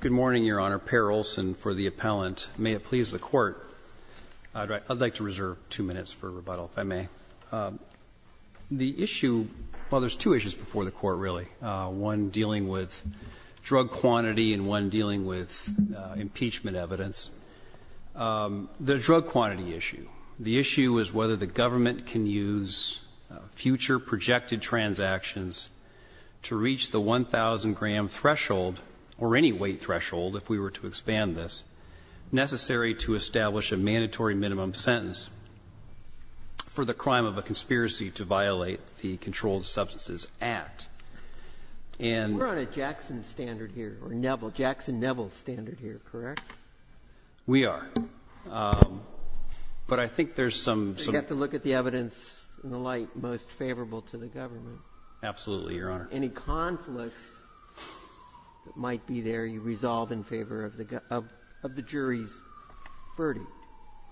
Good morning, Your Honor. Perry Olson for the appellant. May it please the Court, I'd like to reserve two minutes for rebuttal, if I may. The issue, well, there's two issues before the Court really. One dealing with drug quantity and one dealing with impeachment evidence. The drug quantity issue. The issue is whether the government can use future projected transactions to reach the 1,000-gram threshold, or any weight threshold, if we were to expand this, necessary to establish a mandatory minimum sentence for the crime of a conspiracy to violate the Controlled Substances Act. And we're on a Jackson standard here, or Jackson-Neville standard here, correct? We are. But I think there's some You've got to look at the evidence in the light most Absolutely, Your Honor. Any conflicts that might be there, you resolve in favor of the jury's verdict.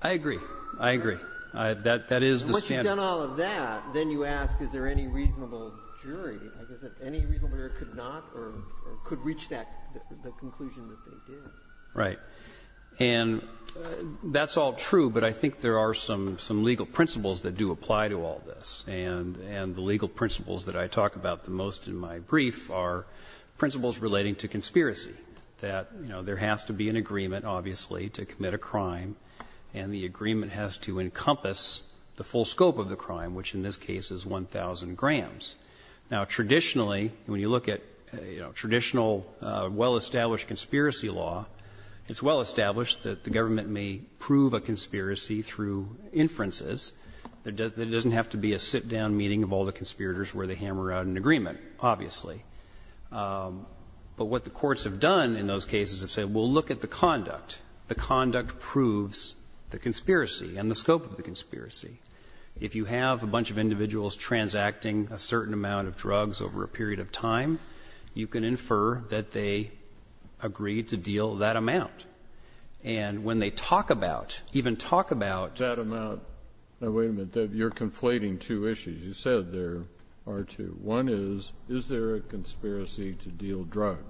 I agree. I agree. That is the standard. Once you've done all of that, then you ask, is there any reasonable jury? Any reasonable jury could not or could reach the conclusion that they did. Right. And that's all true, but I think there are some legal principles that do apply to all this. And the legal principles that I talk about the most in my brief are principles relating to conspiracy, that, you know, there has to be an agreement, obviously, to commit a crime, and the agreement has to encompass the full scope of the crime, which in this case is 1,000 grams. Now, traditionally, when you look at, you know, traditional well-established conspiracy law, it's well established that the government may prove a conspiracy through inferences. There doesn't have to be a sit-down meeting of all the conspirators where they hammer out an agreement, obviously. But what the courts have done in those cases is say, well, look at the conduct. The conduct proves the conspiracy and the scope of the conspiracy. If you have a bunch of individuals transacting a certain amount of drugs over a period of time, you can infer that they agreed to deal that amount. And when they talk about, even talk about. That amount. Now, wait a minute. You're conflating two issues. You said there are two. One is, is there a conspiracy to deal drugs?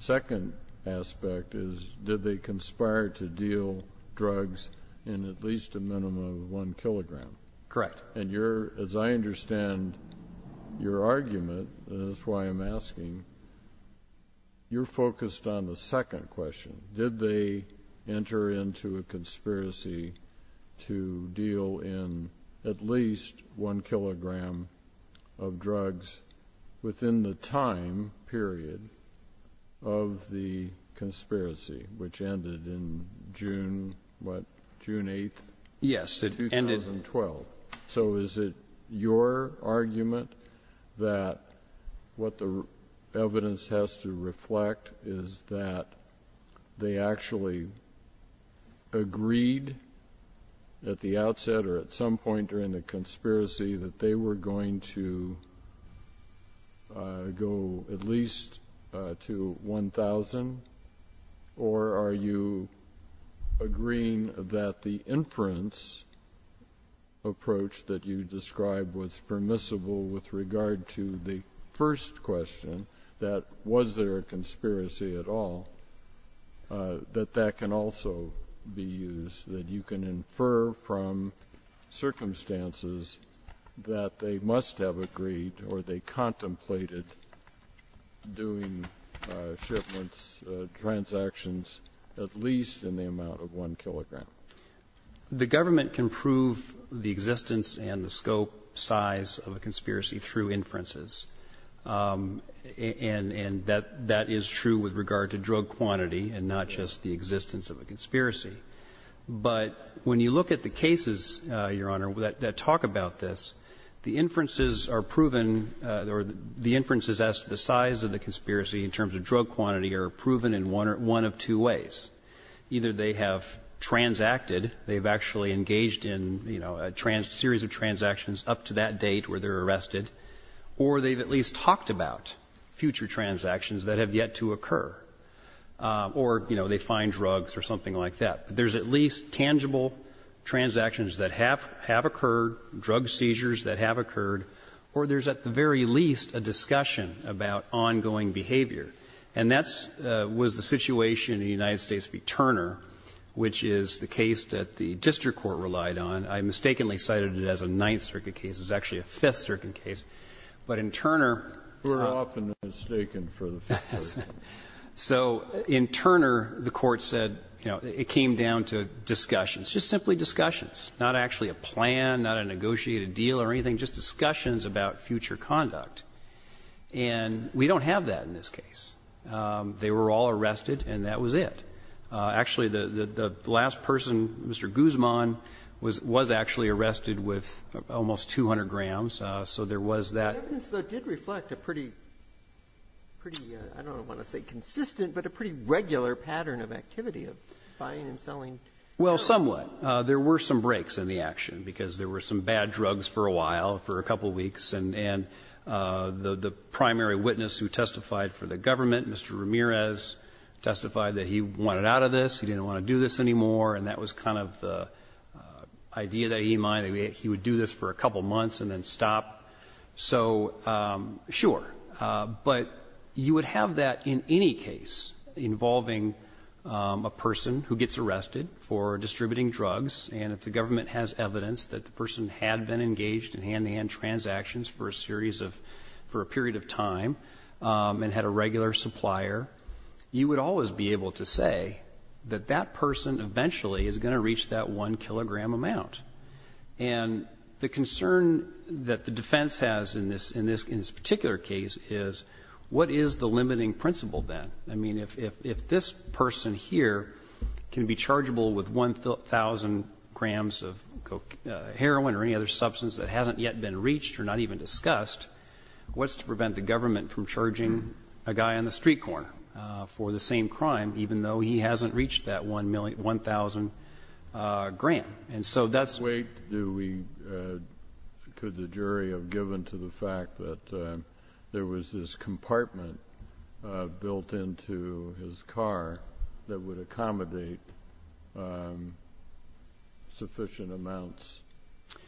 Second aspect is, did they conspire to deal drugs in at least a minimum of 1 kilogram? Correct. And you're, as I understand your argument, and that's why I'm asking, you're focused on the second question. Did they enter into a conspiracy to deal in at least 1 kilogram of drugs within the time period of the conspiracy, which ended in June, what, June 8th? Yes, it ended. 2012. So is it your argument that what the evidence has to reflect is that they actually agreed at the outset or at some point during the conspiracy that they were going to go at least to 1,000? Or are you agreeing that the inference approach that you described was permissible with regard to the first question, that was there a conspiracy at all, that that can also be used, that you can infer from circumstances that they must have agreed or they contemplated doing shipments, transactions, at least in the amount of 1 kilogram? The government can prove the existence and the scope, size of a conspiracy through inferences, and that is true with regard to drug quantity and not just the existence of a conspiracy. But when you look at the cases, Your Honor, that talk about this, the inferences are proven or the inferences as to the size of the conspiracy in terms of drug quantity are proven in one of two ways. Either they have transacted, they have actually engaged in, you know, a series of transactions up to that date where they're arrested, or they've at least talked about future transactions that have yet to occur, or, you know, they find drugs or something like that. There's at least tangible transactions that have occurred, drug seizures that have occurred, or there's at the very least a discussion about ongoing behavior. And that's the situation in the United States v. Turner, which is the case that the district court relied on. I mistakenly cited it as a Ninth Circuit case. It's actually a Fifth Circuit case. But in Turner the Court said, you know, it came down to discussions, just simply discussions, not actually a plan, not a negotiated deal or anything, just discussions about future conduct. And we don't have that in this case. They were all arrested, and that was it. Actually, the last person, Mr. Guzman, was actually arrested with almost 200 grams, so there was that. Breyer. That did reflect a pretty, I don't want to say consistent, but a pretty regular pattern of activity of buying and selling. Well, somewhat. There were some breaks in the action, because there were some bad drugs for a while, for a couple of weeks. And the primary witness who testified for the government, Mr. Ramirez, testified that he wanted out of this, he didn't want to do this anymore, and that was kind of the idea that he might, he would do this for a couple of months and then stop. So, sure. But you would have that in any case involving a person who gets arrested for distributing hand transactions for a period of time and had a regular supplier, you would always be able to say that that person eventually is going to reach that one kilogram amount. And the concern that the defense has in this particular case is, what is the limiting principle then? I mean, if this person here can be chargeable with 1,000 grams of heroin or any other substance that has been reached or not even discussed, what's to prevent the government from charging a guy on the street corner for the same crime, even though he hasn't reached that 1,000 gram? And so that's the way to do it. Could the jury have given to the fact that there was this compartment built into his car that would accommodate sufficient amounts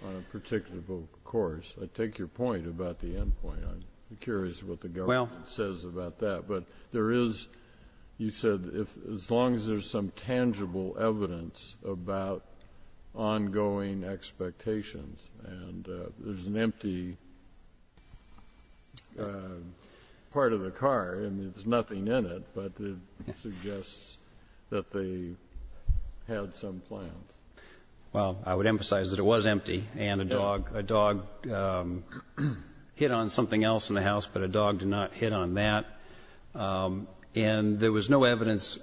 on a particular course? I take your point about the end point. I'm curious what the government says about that. But there is, you said, as long as there's some tangible evidence about ongoing expectations, and there's an empty part of the car and there's nothing in it, but it suggests that they had some plans. Well, I would emphasize that it was empty and a dog hit on something else in the house, but a dog did not hit on that. And there was no evidence.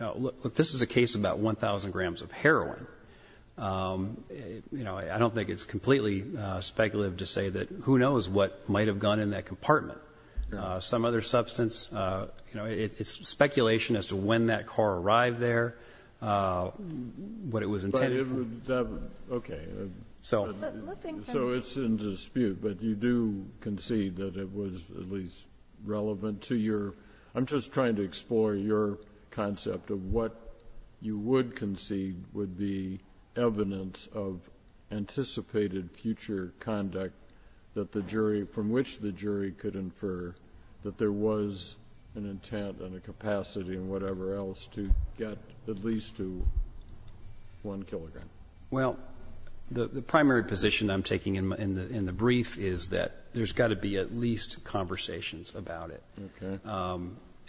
Look, this is a case about 1,000 grams of heroin. I don't think it's completely speculative to say that who knows what might have gone in that compartment. Some other substance. It's speculation as to when that car arrived there, what it was intended for. Okay. So it's in dispute, but you do concede that it was at least relevant to your I'm just trying to explore your concept of what you would concede would be evidence of anticipated future conduct that the jury, from which the jury could infer that there was an intent and a capacity and whatever else to get at least to 1 kilogram. Well, the primary position I'm taking in the brief is that there's got to be at least conversations about it.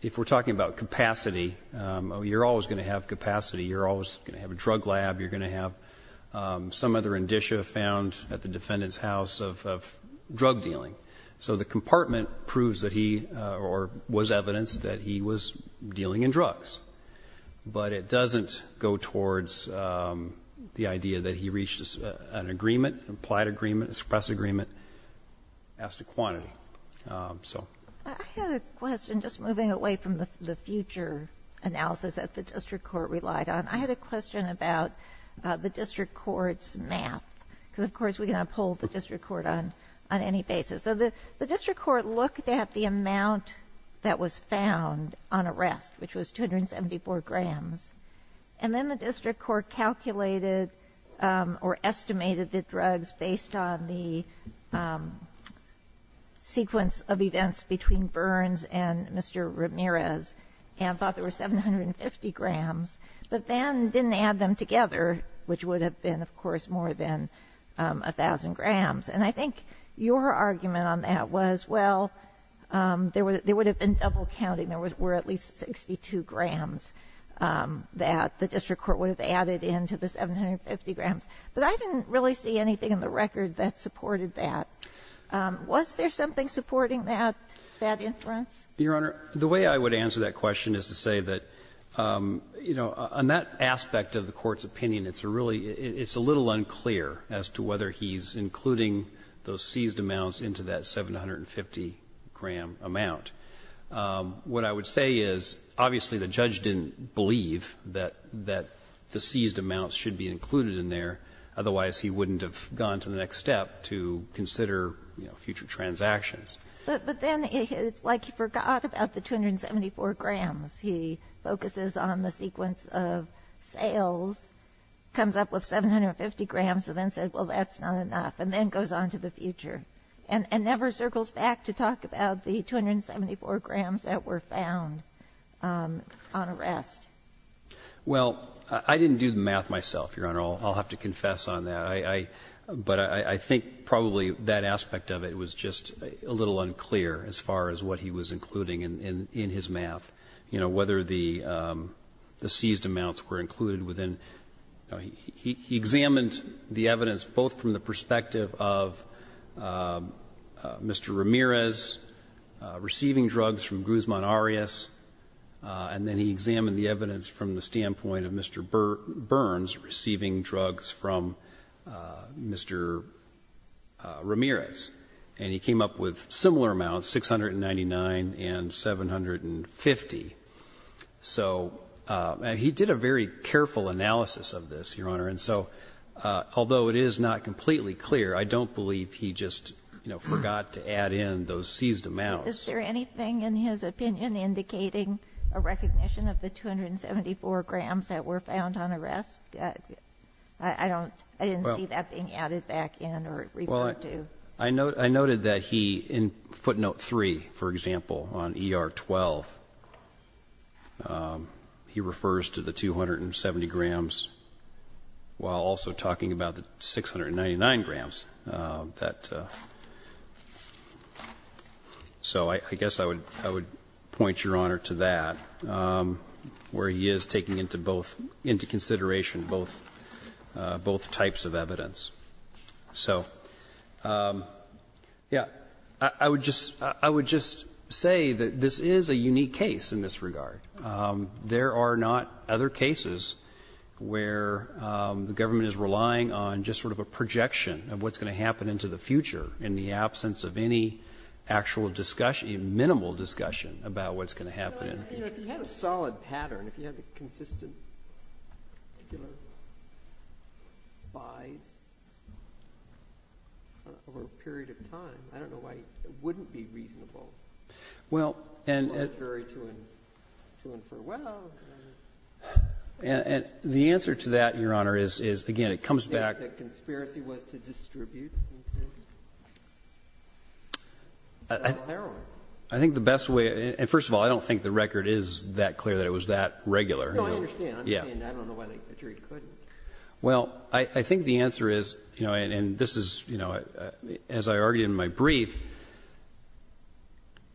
If we're talking about capacity, you're always going to have capacity. You're always going to have a drug lab. You're going to have some other indicia found at the defendant's house of drug dealing. So the compartment proves that he or was evidence that he was dealing in drugs. But it doesn't go towards the idea that he reached an agreement, an implied agreement, a suppressed agreement as to quantity. I had a question just moving away from the future analysis that the district court relied on. I had a question about the district court's math because, of course, we can uphold the district court on any basis. So the district court looked at the amount that was found on arrest, which was 274 grams, and then the district court calculated or estimated the drugs based on the sequence of events between Burns and Mr. Ramirez and thought there were 750 grams, but then didn't add them together, which would have been, of course, more than 1,000 grams. And I think your argument on that was, well, there would have been double counting. There were at least 62 grams that the district court would have added in to the 750 grams. But I didn't really see anything in the record that supported that. Was there something supporting that, that inference? Your Honor, the way I would answer that question is to say that, you know, on that aspect of the Court's opinion, it's a little unclear as to whether he's including those seized amounts into that 750-gram amount. What I would say is, obviously, the judge didn't believe that the seized amounts should be included in there, otherwise he wouldn't have gone to the next step to consider, you know, future transactions. But then it's like he forgot about the 274 grams. He focuses on the sequence of sales, comes up with 750 grams, and then said, well, that's not enough, and then goes on to the future, and never circles back to talk about the 274 grams that were found on arrest. Well, I didn't do the math myself, Your Honor. I'll have to confess on that. But I think probably that aspect of it was just a little unclear as far as what he was including in his math, you know, whether the seized amounts were included within. He examined the evidence both from the perspective of Mr. Ramirez receiving drugs from Gruzman Arias, and then he examined the evidence from the standpoint of Mr. Burns receiving drugs from Mr. Ramirez. And he came up with similar amounts, 699 and 750. So he did a very careful analysis of this, Your Honor. And so although it is not completely clear, I don't believe he just, you know, forgot to add in those seized amounts. Is there anything in his opinion indicating a recognition of the 274 grams that were found on arrest? I didn't see that being added back in or referred to. I noted that he, in footnote 3, for example, on ER 12, he refers to the 270 grams while also talking about the 699 grams. So I guess I would point, Your Honor, to that, where he is taking into both into consideration both types of evidence. So, yes, I would just say that this is a unique case in this regard. There are not other cases where the government is relying on just sort of a projection of what's going to happen into the future in the absence of any actual discussion or minimal discussion about what's going to happen in the future. If you had a solid pattern, if you had consistent particular buys over a period of time, I don't know why it wouldn't be reasonable for a jury to infer, well. And the answer to that, Your Honor, is, again, it comes back. The conspiracy was to distribute the heroin. I think the best way, and first of all, I don't think the record is that clear that it was that regular. No, I understand. I understand. I don't know why the jury couldn't. Well, I think the answer is, you know, and this is, you know, as I argued in my brief,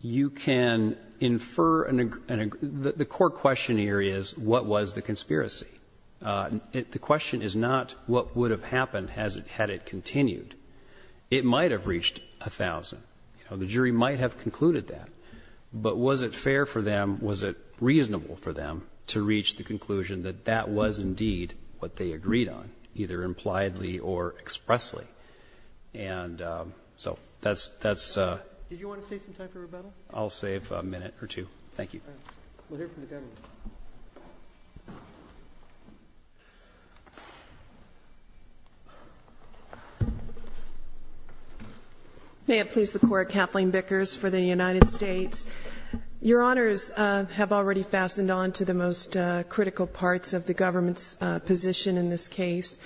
you can infer, the core question here is what was the conspiracy? The question is not what would have happened had it continued. It might have reached 1,000. You know, the jury might have concluded that. But was it fair for them, was it reasonable for them to reach the conclusion that that was indeed what they agreed on, either impliedly or expressly? And so that's a ---- Did you want to save some time for rebuttal? I'll save a minute or two. Thank you. We'll hear from the government. May it please the Court. Kathleen Bickers for the United States. Your Honors have already fastened on to the most critical parts of the government's position in this case.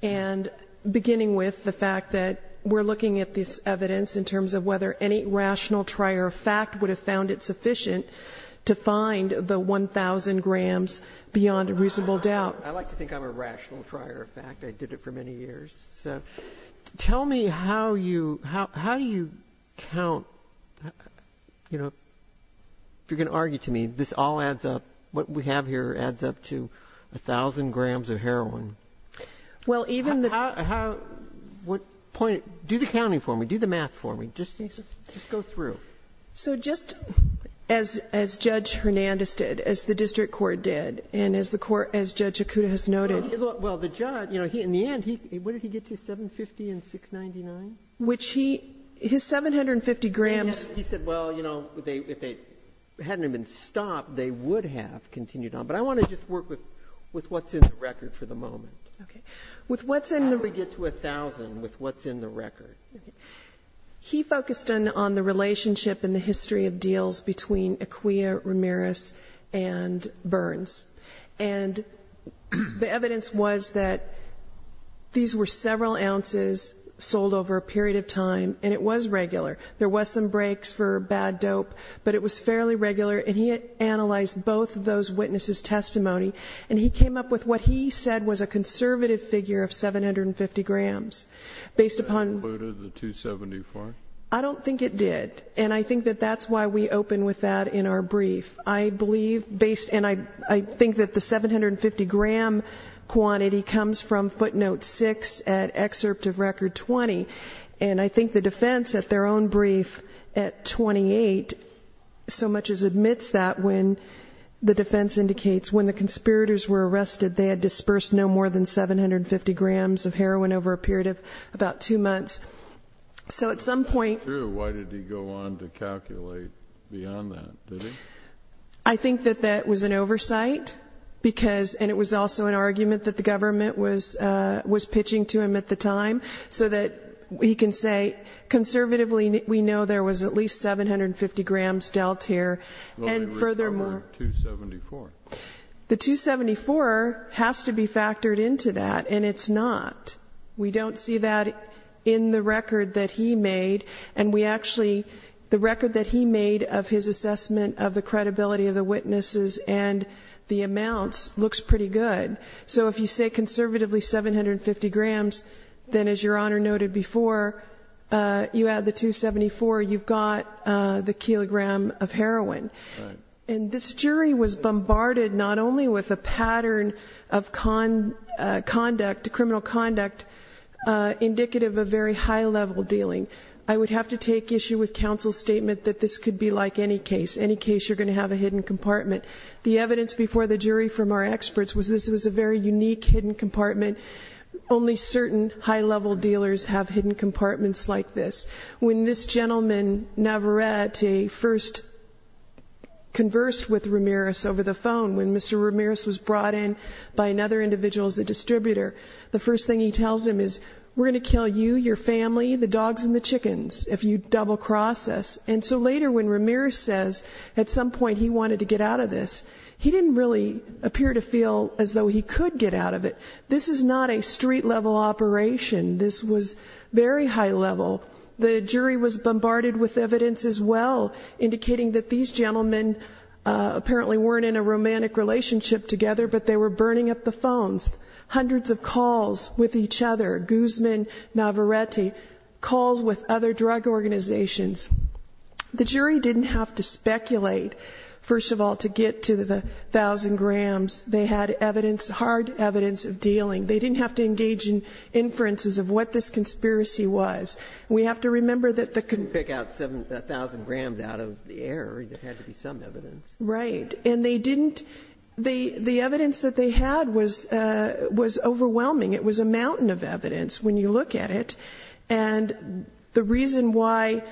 And beginning with the fact that we're looking at this evidence in terms of whether any rational trier of fact would have found it sufficient to find the 1,000 grams beyond a reasonable doubt. I like to think I'm a rational trier of fact. I did it for many years. So tell me how you ---- how do you count, you know, if you're going to argue to me, this all adds up, what we have here adds up to 1,000 grams of heroin. Well, even the ---- Do the counting for me. Do the math for me. Just go through. So just as Judge Hernandez did, as the district court did, and as the court ---- as Judge Akuta has noted ---- Well, the judge, you know, in the end, what did he get to, 750 and 699? Which he ---- his 750 grams ---- He said, well, you know, if they hadn't even stopped, they would have continued on. But I want to just work with what's in the record for the moment. Okay. With what's in the ---- With what's in the record. Okay. He focused on the relationship and the history of deals between Acquia, Ramirez, and Burns. And the evidence was that these were several ounces sold over a period of time, and it was regular. There was some breaks for bad dope, but it was fairly regular. And he had analyzed both of those witnesses' testimony, and he came up with what he said was a conservative figure of 750 grams, based upon ---- Did that include the 274? I don't think it did. And I think that that's why we open with that in our brief. I believe, based ---- and I think that the 750-gram quantity comes from footnote 6 at excerpt of record 20. And I think the defense at their own brief at 28 so much as admits that when the conspirators were arrested, they had dispersed no more than 750 grams of heroin over a period of about two months. So at some point ---- True. Why did he go on to calculate beyond that? Did he? I think that that was an oversight, because ---- and it was also an argument that the government was pitching to him at the time, so that he can say, conservatively, we know there was at least 750 grams dealt here. And furthermore ---- The 274 has to be factored into that, and it's not. We don't see that in the record that he made, and we actually ---- the record that he made of his assessment of the credibility of the witnesses and the amounts looks pretty good. So if you say, conservatively, 750 grams, then as Your Honor noted before, you add the 274, you've got the kilogram of heroin. Right. And this jury was bombarded not only with a pattern of criminal conduct indicative of very high-level dealing. I would have to take issue with counsel's statement that this could be like any case, any case you're going to have a hidden compartment. The evidence before the jury from our experts was this was a very unique hidden compartment. Only certain high-level dealers have hidden compartments like this. When this gentleman, Navarrete, first conversed with Ramirez over the phone, when Mr. Ramirez was brought in by another individual as a distributor, the first thing he tells him is, we're going to kill you, your family, the dogs and the chickens if you double-cross us. And so later when Ramirez says at some point he wanted to get out of this, he didn't really appear to feel as though he could get out of it. This is not a street-level operation. This was very high-level. The jury was bombarded with evidence as well, indicating that these gentlemen apparently weren't in a romantic relationship together, but they were burning up the phones. Hundreds of calls with each other, Guzman, Navarrete, calls with other drug organizations. The jury didn't have to speculate, first of all, to get to the thousand grams. They had evidence, hard evidence of dealing. They didn't have to engage in inferences of what this conspiracy was. We have to remember that the con- Pick out a thousand grams out of the air. There had to be some evidence. Right. And they didn't, the evidence that they had was overwhelming. It was a mountain of evidence when you look at it. And the reason why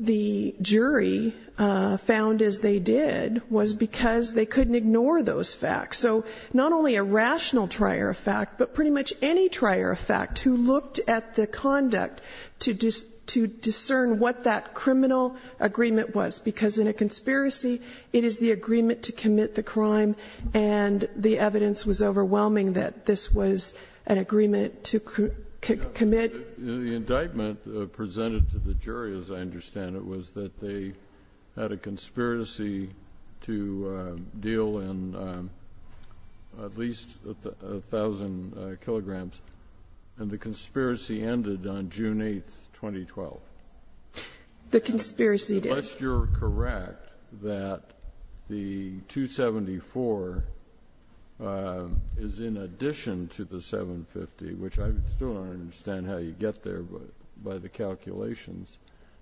the jury found as they did was because they couldn't ignore those facts. So not only a rational trier of fact, but pretty much any trier of fact who looked at the conduct to discern what that criminal agreement was, because in a conspiracy it is the agreement to commit the crime and the evidence was overwhelming that this was an agreement to commit. The indictment presented to the jury, as I understand it, was that they had a conspiracy to deal in at least a thousand kilograms. And the conspiracy ended on June 8th, 2012. The conspiracy did. Unless you're correct that the 274 is in addition to the 750, which I still don't understand how you get there by the calculations,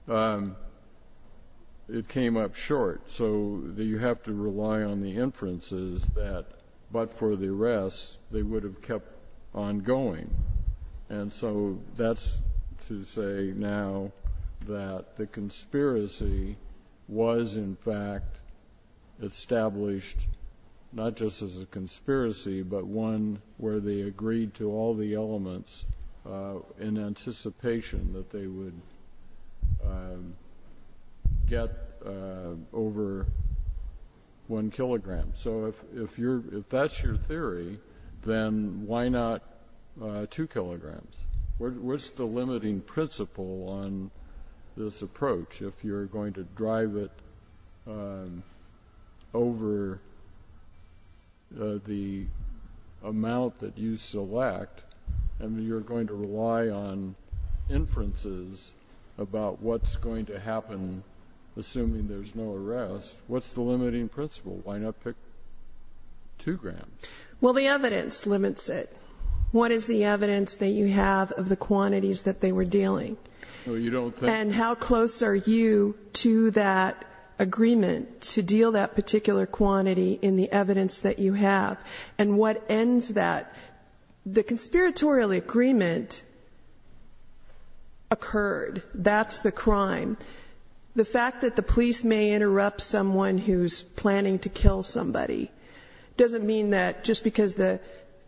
it came up short. So you have to rely on the inferences that, but for the rest, they would have kept on going. And so that's to say now that the conspiracy was, in fact, established not just as a conspiracy, but one where they agreed to all the elements in anticipation that they would get over one kilogram. So if that's your theory, then why not two kilograms? What's the limiting principle on this approach? If you're going to drive it over the amount that you select and you're going to rely on inferences about what's going to happen, assuming there's no arrest, what's the limiting principle? Why not pick two grams? Well, the evidence limits it. What is the evidence that you have of the quantities that they were dealing? And how close are you to that agreement to deal that particular quantity in the evidence that you have? And what ends that? The conspiratorial agreement occurred. That's the crime. The fact that the police may interrupt someone who's planning to kill somebody doesn't mean that just because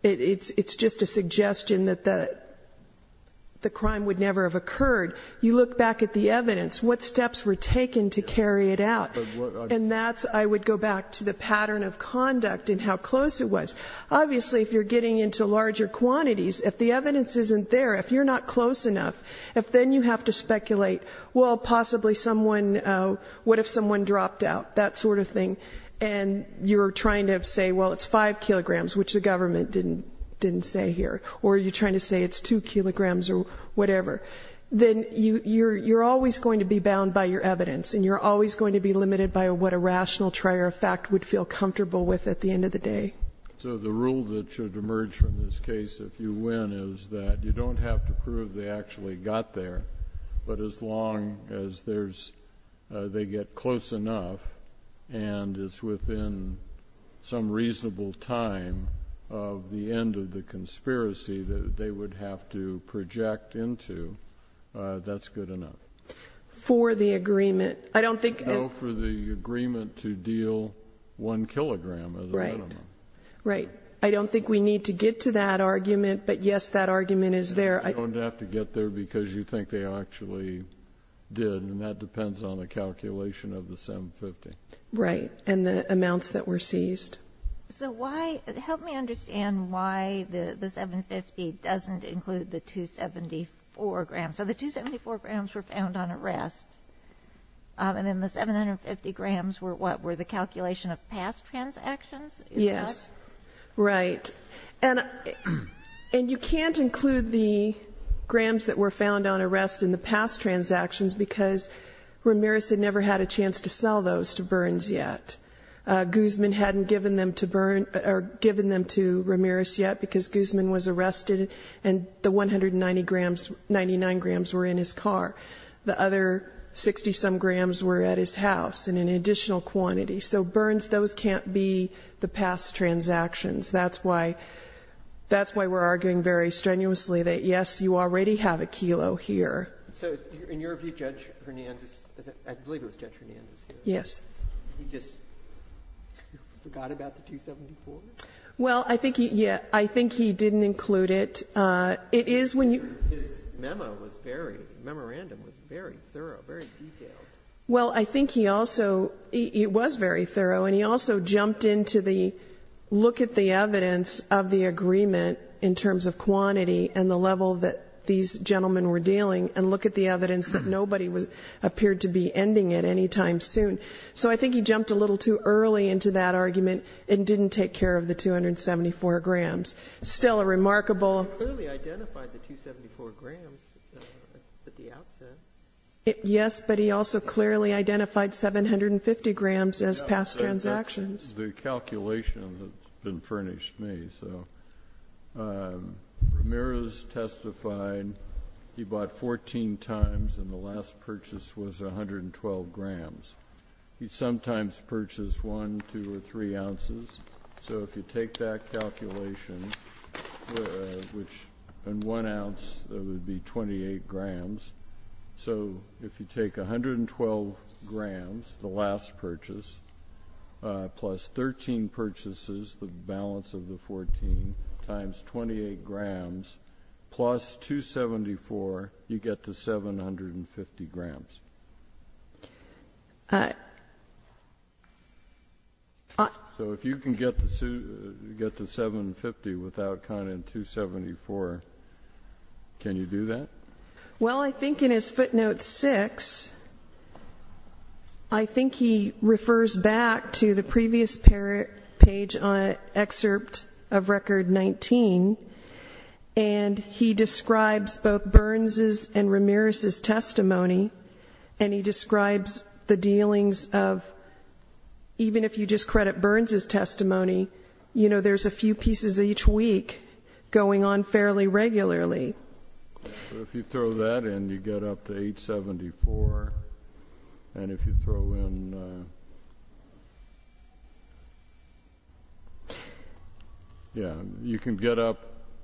it's just a suggestion that the crime would never have occurred. You look back at the evidence, what steps were taken to carry it out? And that's, I would go back to the pattern of conduct and how close it was. Obviously, if you're getting into larger quantities, if the evidence isn't there, if you're not close enough, if then you have to speculate, well, possibly someone, what if someone dropped out, that sort of thing, and you're trying to say, well, it's five kilograms, which the government didn't say here, or you're trying to say it's two kilograms or whatever, then you're always going to be bound by your evidence and you're always going to be limited by what a rational trier of fact would feel comfortable with at the end of the day. So the rule that should emerge from this case, if you win, is that you don't have to prove they actually got there, but as long as they get close enough and it's within some reasonable time of the end of the conspiracy that they would have to project into, that's good enough. For the agreement. I don't think. No, for the agreement to deal one kilogram as a minimum. Right. I don't think we need to get to that argument, but, yes, that argument is there. You don't have to get there because you think they actually did, and that depends on the calculation of the 750. Right, and the amounts that were seized. So help me understand why the 750 doesn't include the 274 grams. So the 274 grams were found on arrest, and then the 750 grams were what? Were the calculation of past transactions? Yes. Right. And you can't include the grams that were found on arrest in the past transactions because Ramirez had never had a chance to sell those to Burns yet. Guzman hadn't given them to Ramirez yet because Guzman was arrested and the 199 grams were in his car. The other 60-some grams were at his house in an additional quantity. So Burns, those can't be the past transactions. That's why we're arguing very strenuously that, yes, you already have a kilo here. So in your view, Judge Hernandez, I believe it was Judge Hernandez. Yes. He just forgot about the 274? Well, I think he didn't include it. It is when you. His memo was very, memorandum was very thorough, very detailed. Well, I think he also, it was very thorough. And he also jumped into the look at the evidence of the agreement in terms of quantity and the level that these gentlemen were dealing, and look at the evidence that nobody appeared to be ending it any time soon. So I think he jumped a little too early into that argument and didn't take care of the 274 grams. Still a remarkable. He clearly identified the 274 grams at the outset. Yes, but he also clearly identified 750 grams as past transactions. The calculation has been furnished me. So Ramirez testified he bought 14 times, and the last purchase was 112 grams. He sometimes purchased 1, 2, or 3 ounces. So if you take that calculation, which in one ounce would be 28 grams. So if you take 112 grams, the last purchase, plus 13 purchases, the balance of the 14, times 28 grams, plus 274, you get to 750 grams. So if you can get to 750 without counting 274, can you do that? Well, I think in his footnote 6, I think he refers back to the previous page on excerpt of record 19, and he describes both Burns' and Ramirez' testimony, and he describes the dealings of, even if you just credit Burns' testimony, you know, there's a few pieces each week going on fairly regularly. So if you throw that in, you get up to 874. And if you throw in, yeah, you can get up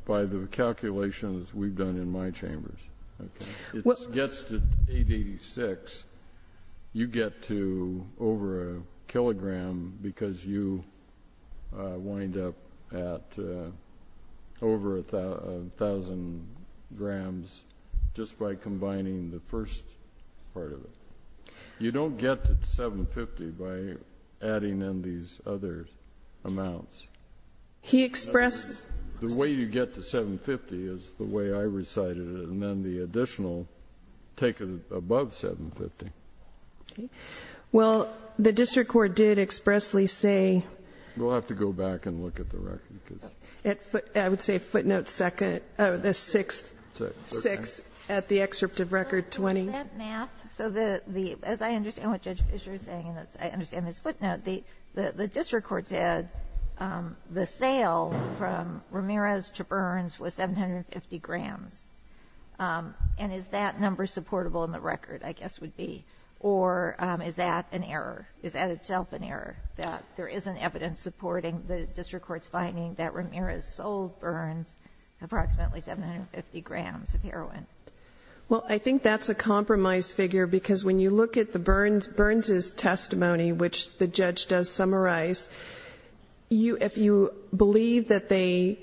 by the calculations we've done in my chambers. It gets to 886. You get to over a kilogram because you wind up at over 1,000 grams just by combining the first part of it. You don't get to 750 by adding in these other amounts. He expressed The way you get to 750 is the way I recited it, and then the additional, take it above 750. Well, the district court did expressly say We'll have to go back and look at the record. I would say footnote 6 at the excerpt of record 20. Is that math? So as I understand what Judge Fischer is saying, and I understand this footnote, the district court said the sale from Ramirez to Burns was 750 grams. And is that number supportable in the record, I guess would be? Or is that an error? Is that itself an error, that there isn't evidence supporting the district court's finding that Ramirez sold Burns approximately 750 grams of heroin? Well, I think that's a compromise figure because when you look at the Burns' testimony, which the judge does summarize, if you believe that they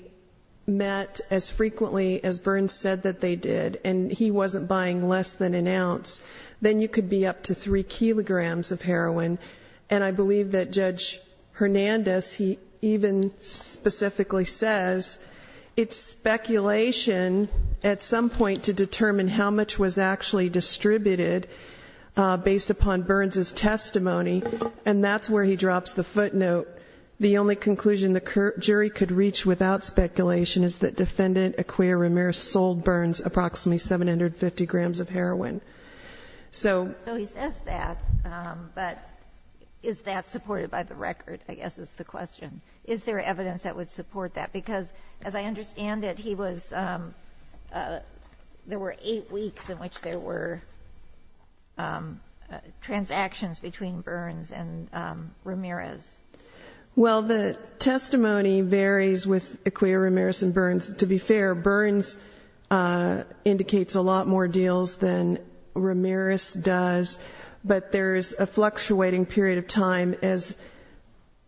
met as frequently as Burns said that they did and he wasn't buying less than an ounce, then you could be up to 3 kilograms of heroin. And I believe that Judge Hernandez, he even specifically says, it's speculation at some point to determine how much was actually distributed based upon Burns' testimony. And that's where he drops the footnote. The only conclusion the jury could reach without speculation is that Defendant Acquia Ramirez sold Burns approximately 750 grams of heroin. So he says that, but is that supported by the record, I guess is the question. Is there evidence that would support that? Because as I understand it, there were eight weeks in which there were transactions between Burns and Ramirez. Well, the testimony varies with Acquia Ramirez and Burns. To be fair, Burns indicates a lot more deals than Ramirez does, but there is a fluctuating period of time. As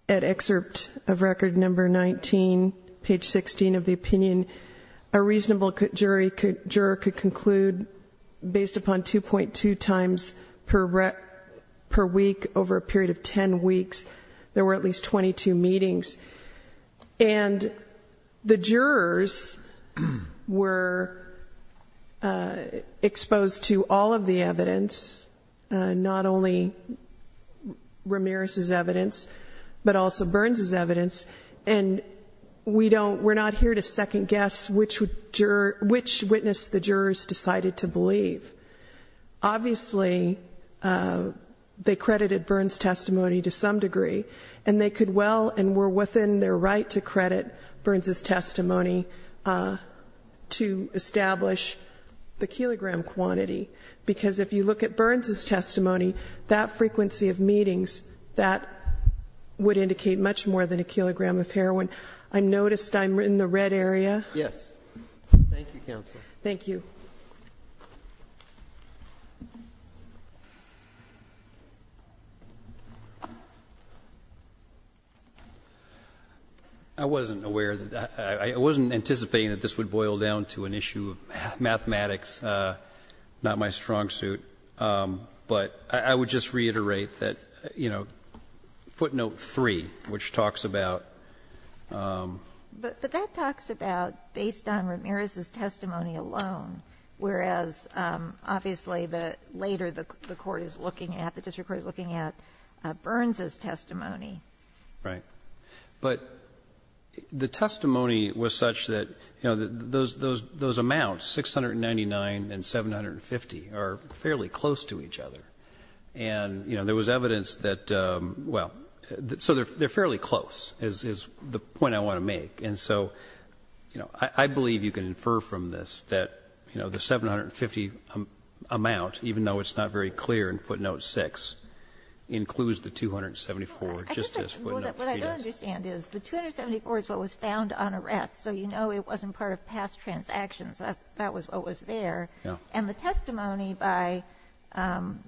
at excerpt of record number 19, page 16 of the opinion, a reasonable juror could conclude based upon 2.2 times per week over a period of 10 weeks, there were at least 22 meetings. And the jurors were exposed to all of the evidence, not only Ramirez's evidence, but also Burns' evidence. And we're not here to second guess which witness the jurors decided to believe. Obviously, they credited Burns' testimony to some degree. And they could well and were within their right to credit Burns' testimony to establish the kilogram quantity. Because if you look at Burns' testimony, that frequency of meetings, that would indicate much more than a kilogram of heroin. I noticed I'm in the red area. Yes. Thank you, Counsel. Thank you. I wasn't aware of that. I wasn't anticipating that this would boil down to an issue of mathematics. Not my strong suit. But I would just reiterate that, you know, footnote 3, which talks about. But that talks about based on Ramirez's testimony alone, whereas, obviously, later the court is looking at, the district court is looking at Burns' testimony. Right. But the testimony was such that, you know, those amounts, 699 and 750, are fairly close to each other. And, you know, there was evidence that, well, so they're fairly close is the point I want to make. And so, you know, I believe you can infer from this that, you know, the 750 amount, even though it's not very clear in footnote 6, includes the 274 just as footnote 3 does. What I don't understand is the 274 is what was found on arrest. So you know it wasn't part of past transactions. That was what was there. And the testimony by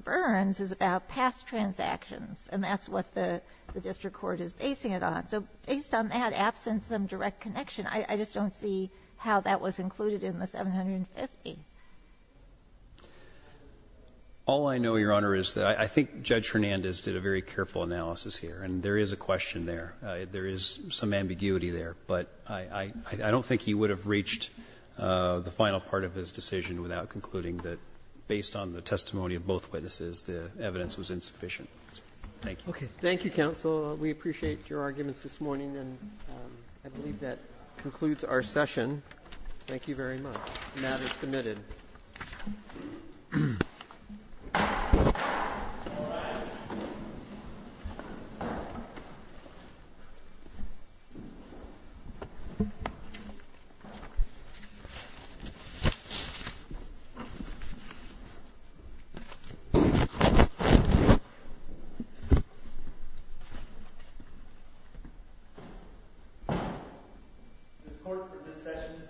Burns is about past transactions. And that's what the district court is basing it on. So based on that absence of direct connection, I just don't see how that was included in the 750. All I know, Your Honor, is that I think Judge Hernandez did a very careful analysis here. And there is a question there. There is some ambiguity there. But I don't think he would have reached the final part of his decision without concluding that based on the testimony of both witnesses, the evidence was insufficient. Thank you. Thank you, counsel. We appreciate your arguments this morning. And I believe that concludes our session. Thank you very much. The matter is submitted. This court for this session stands adjourned.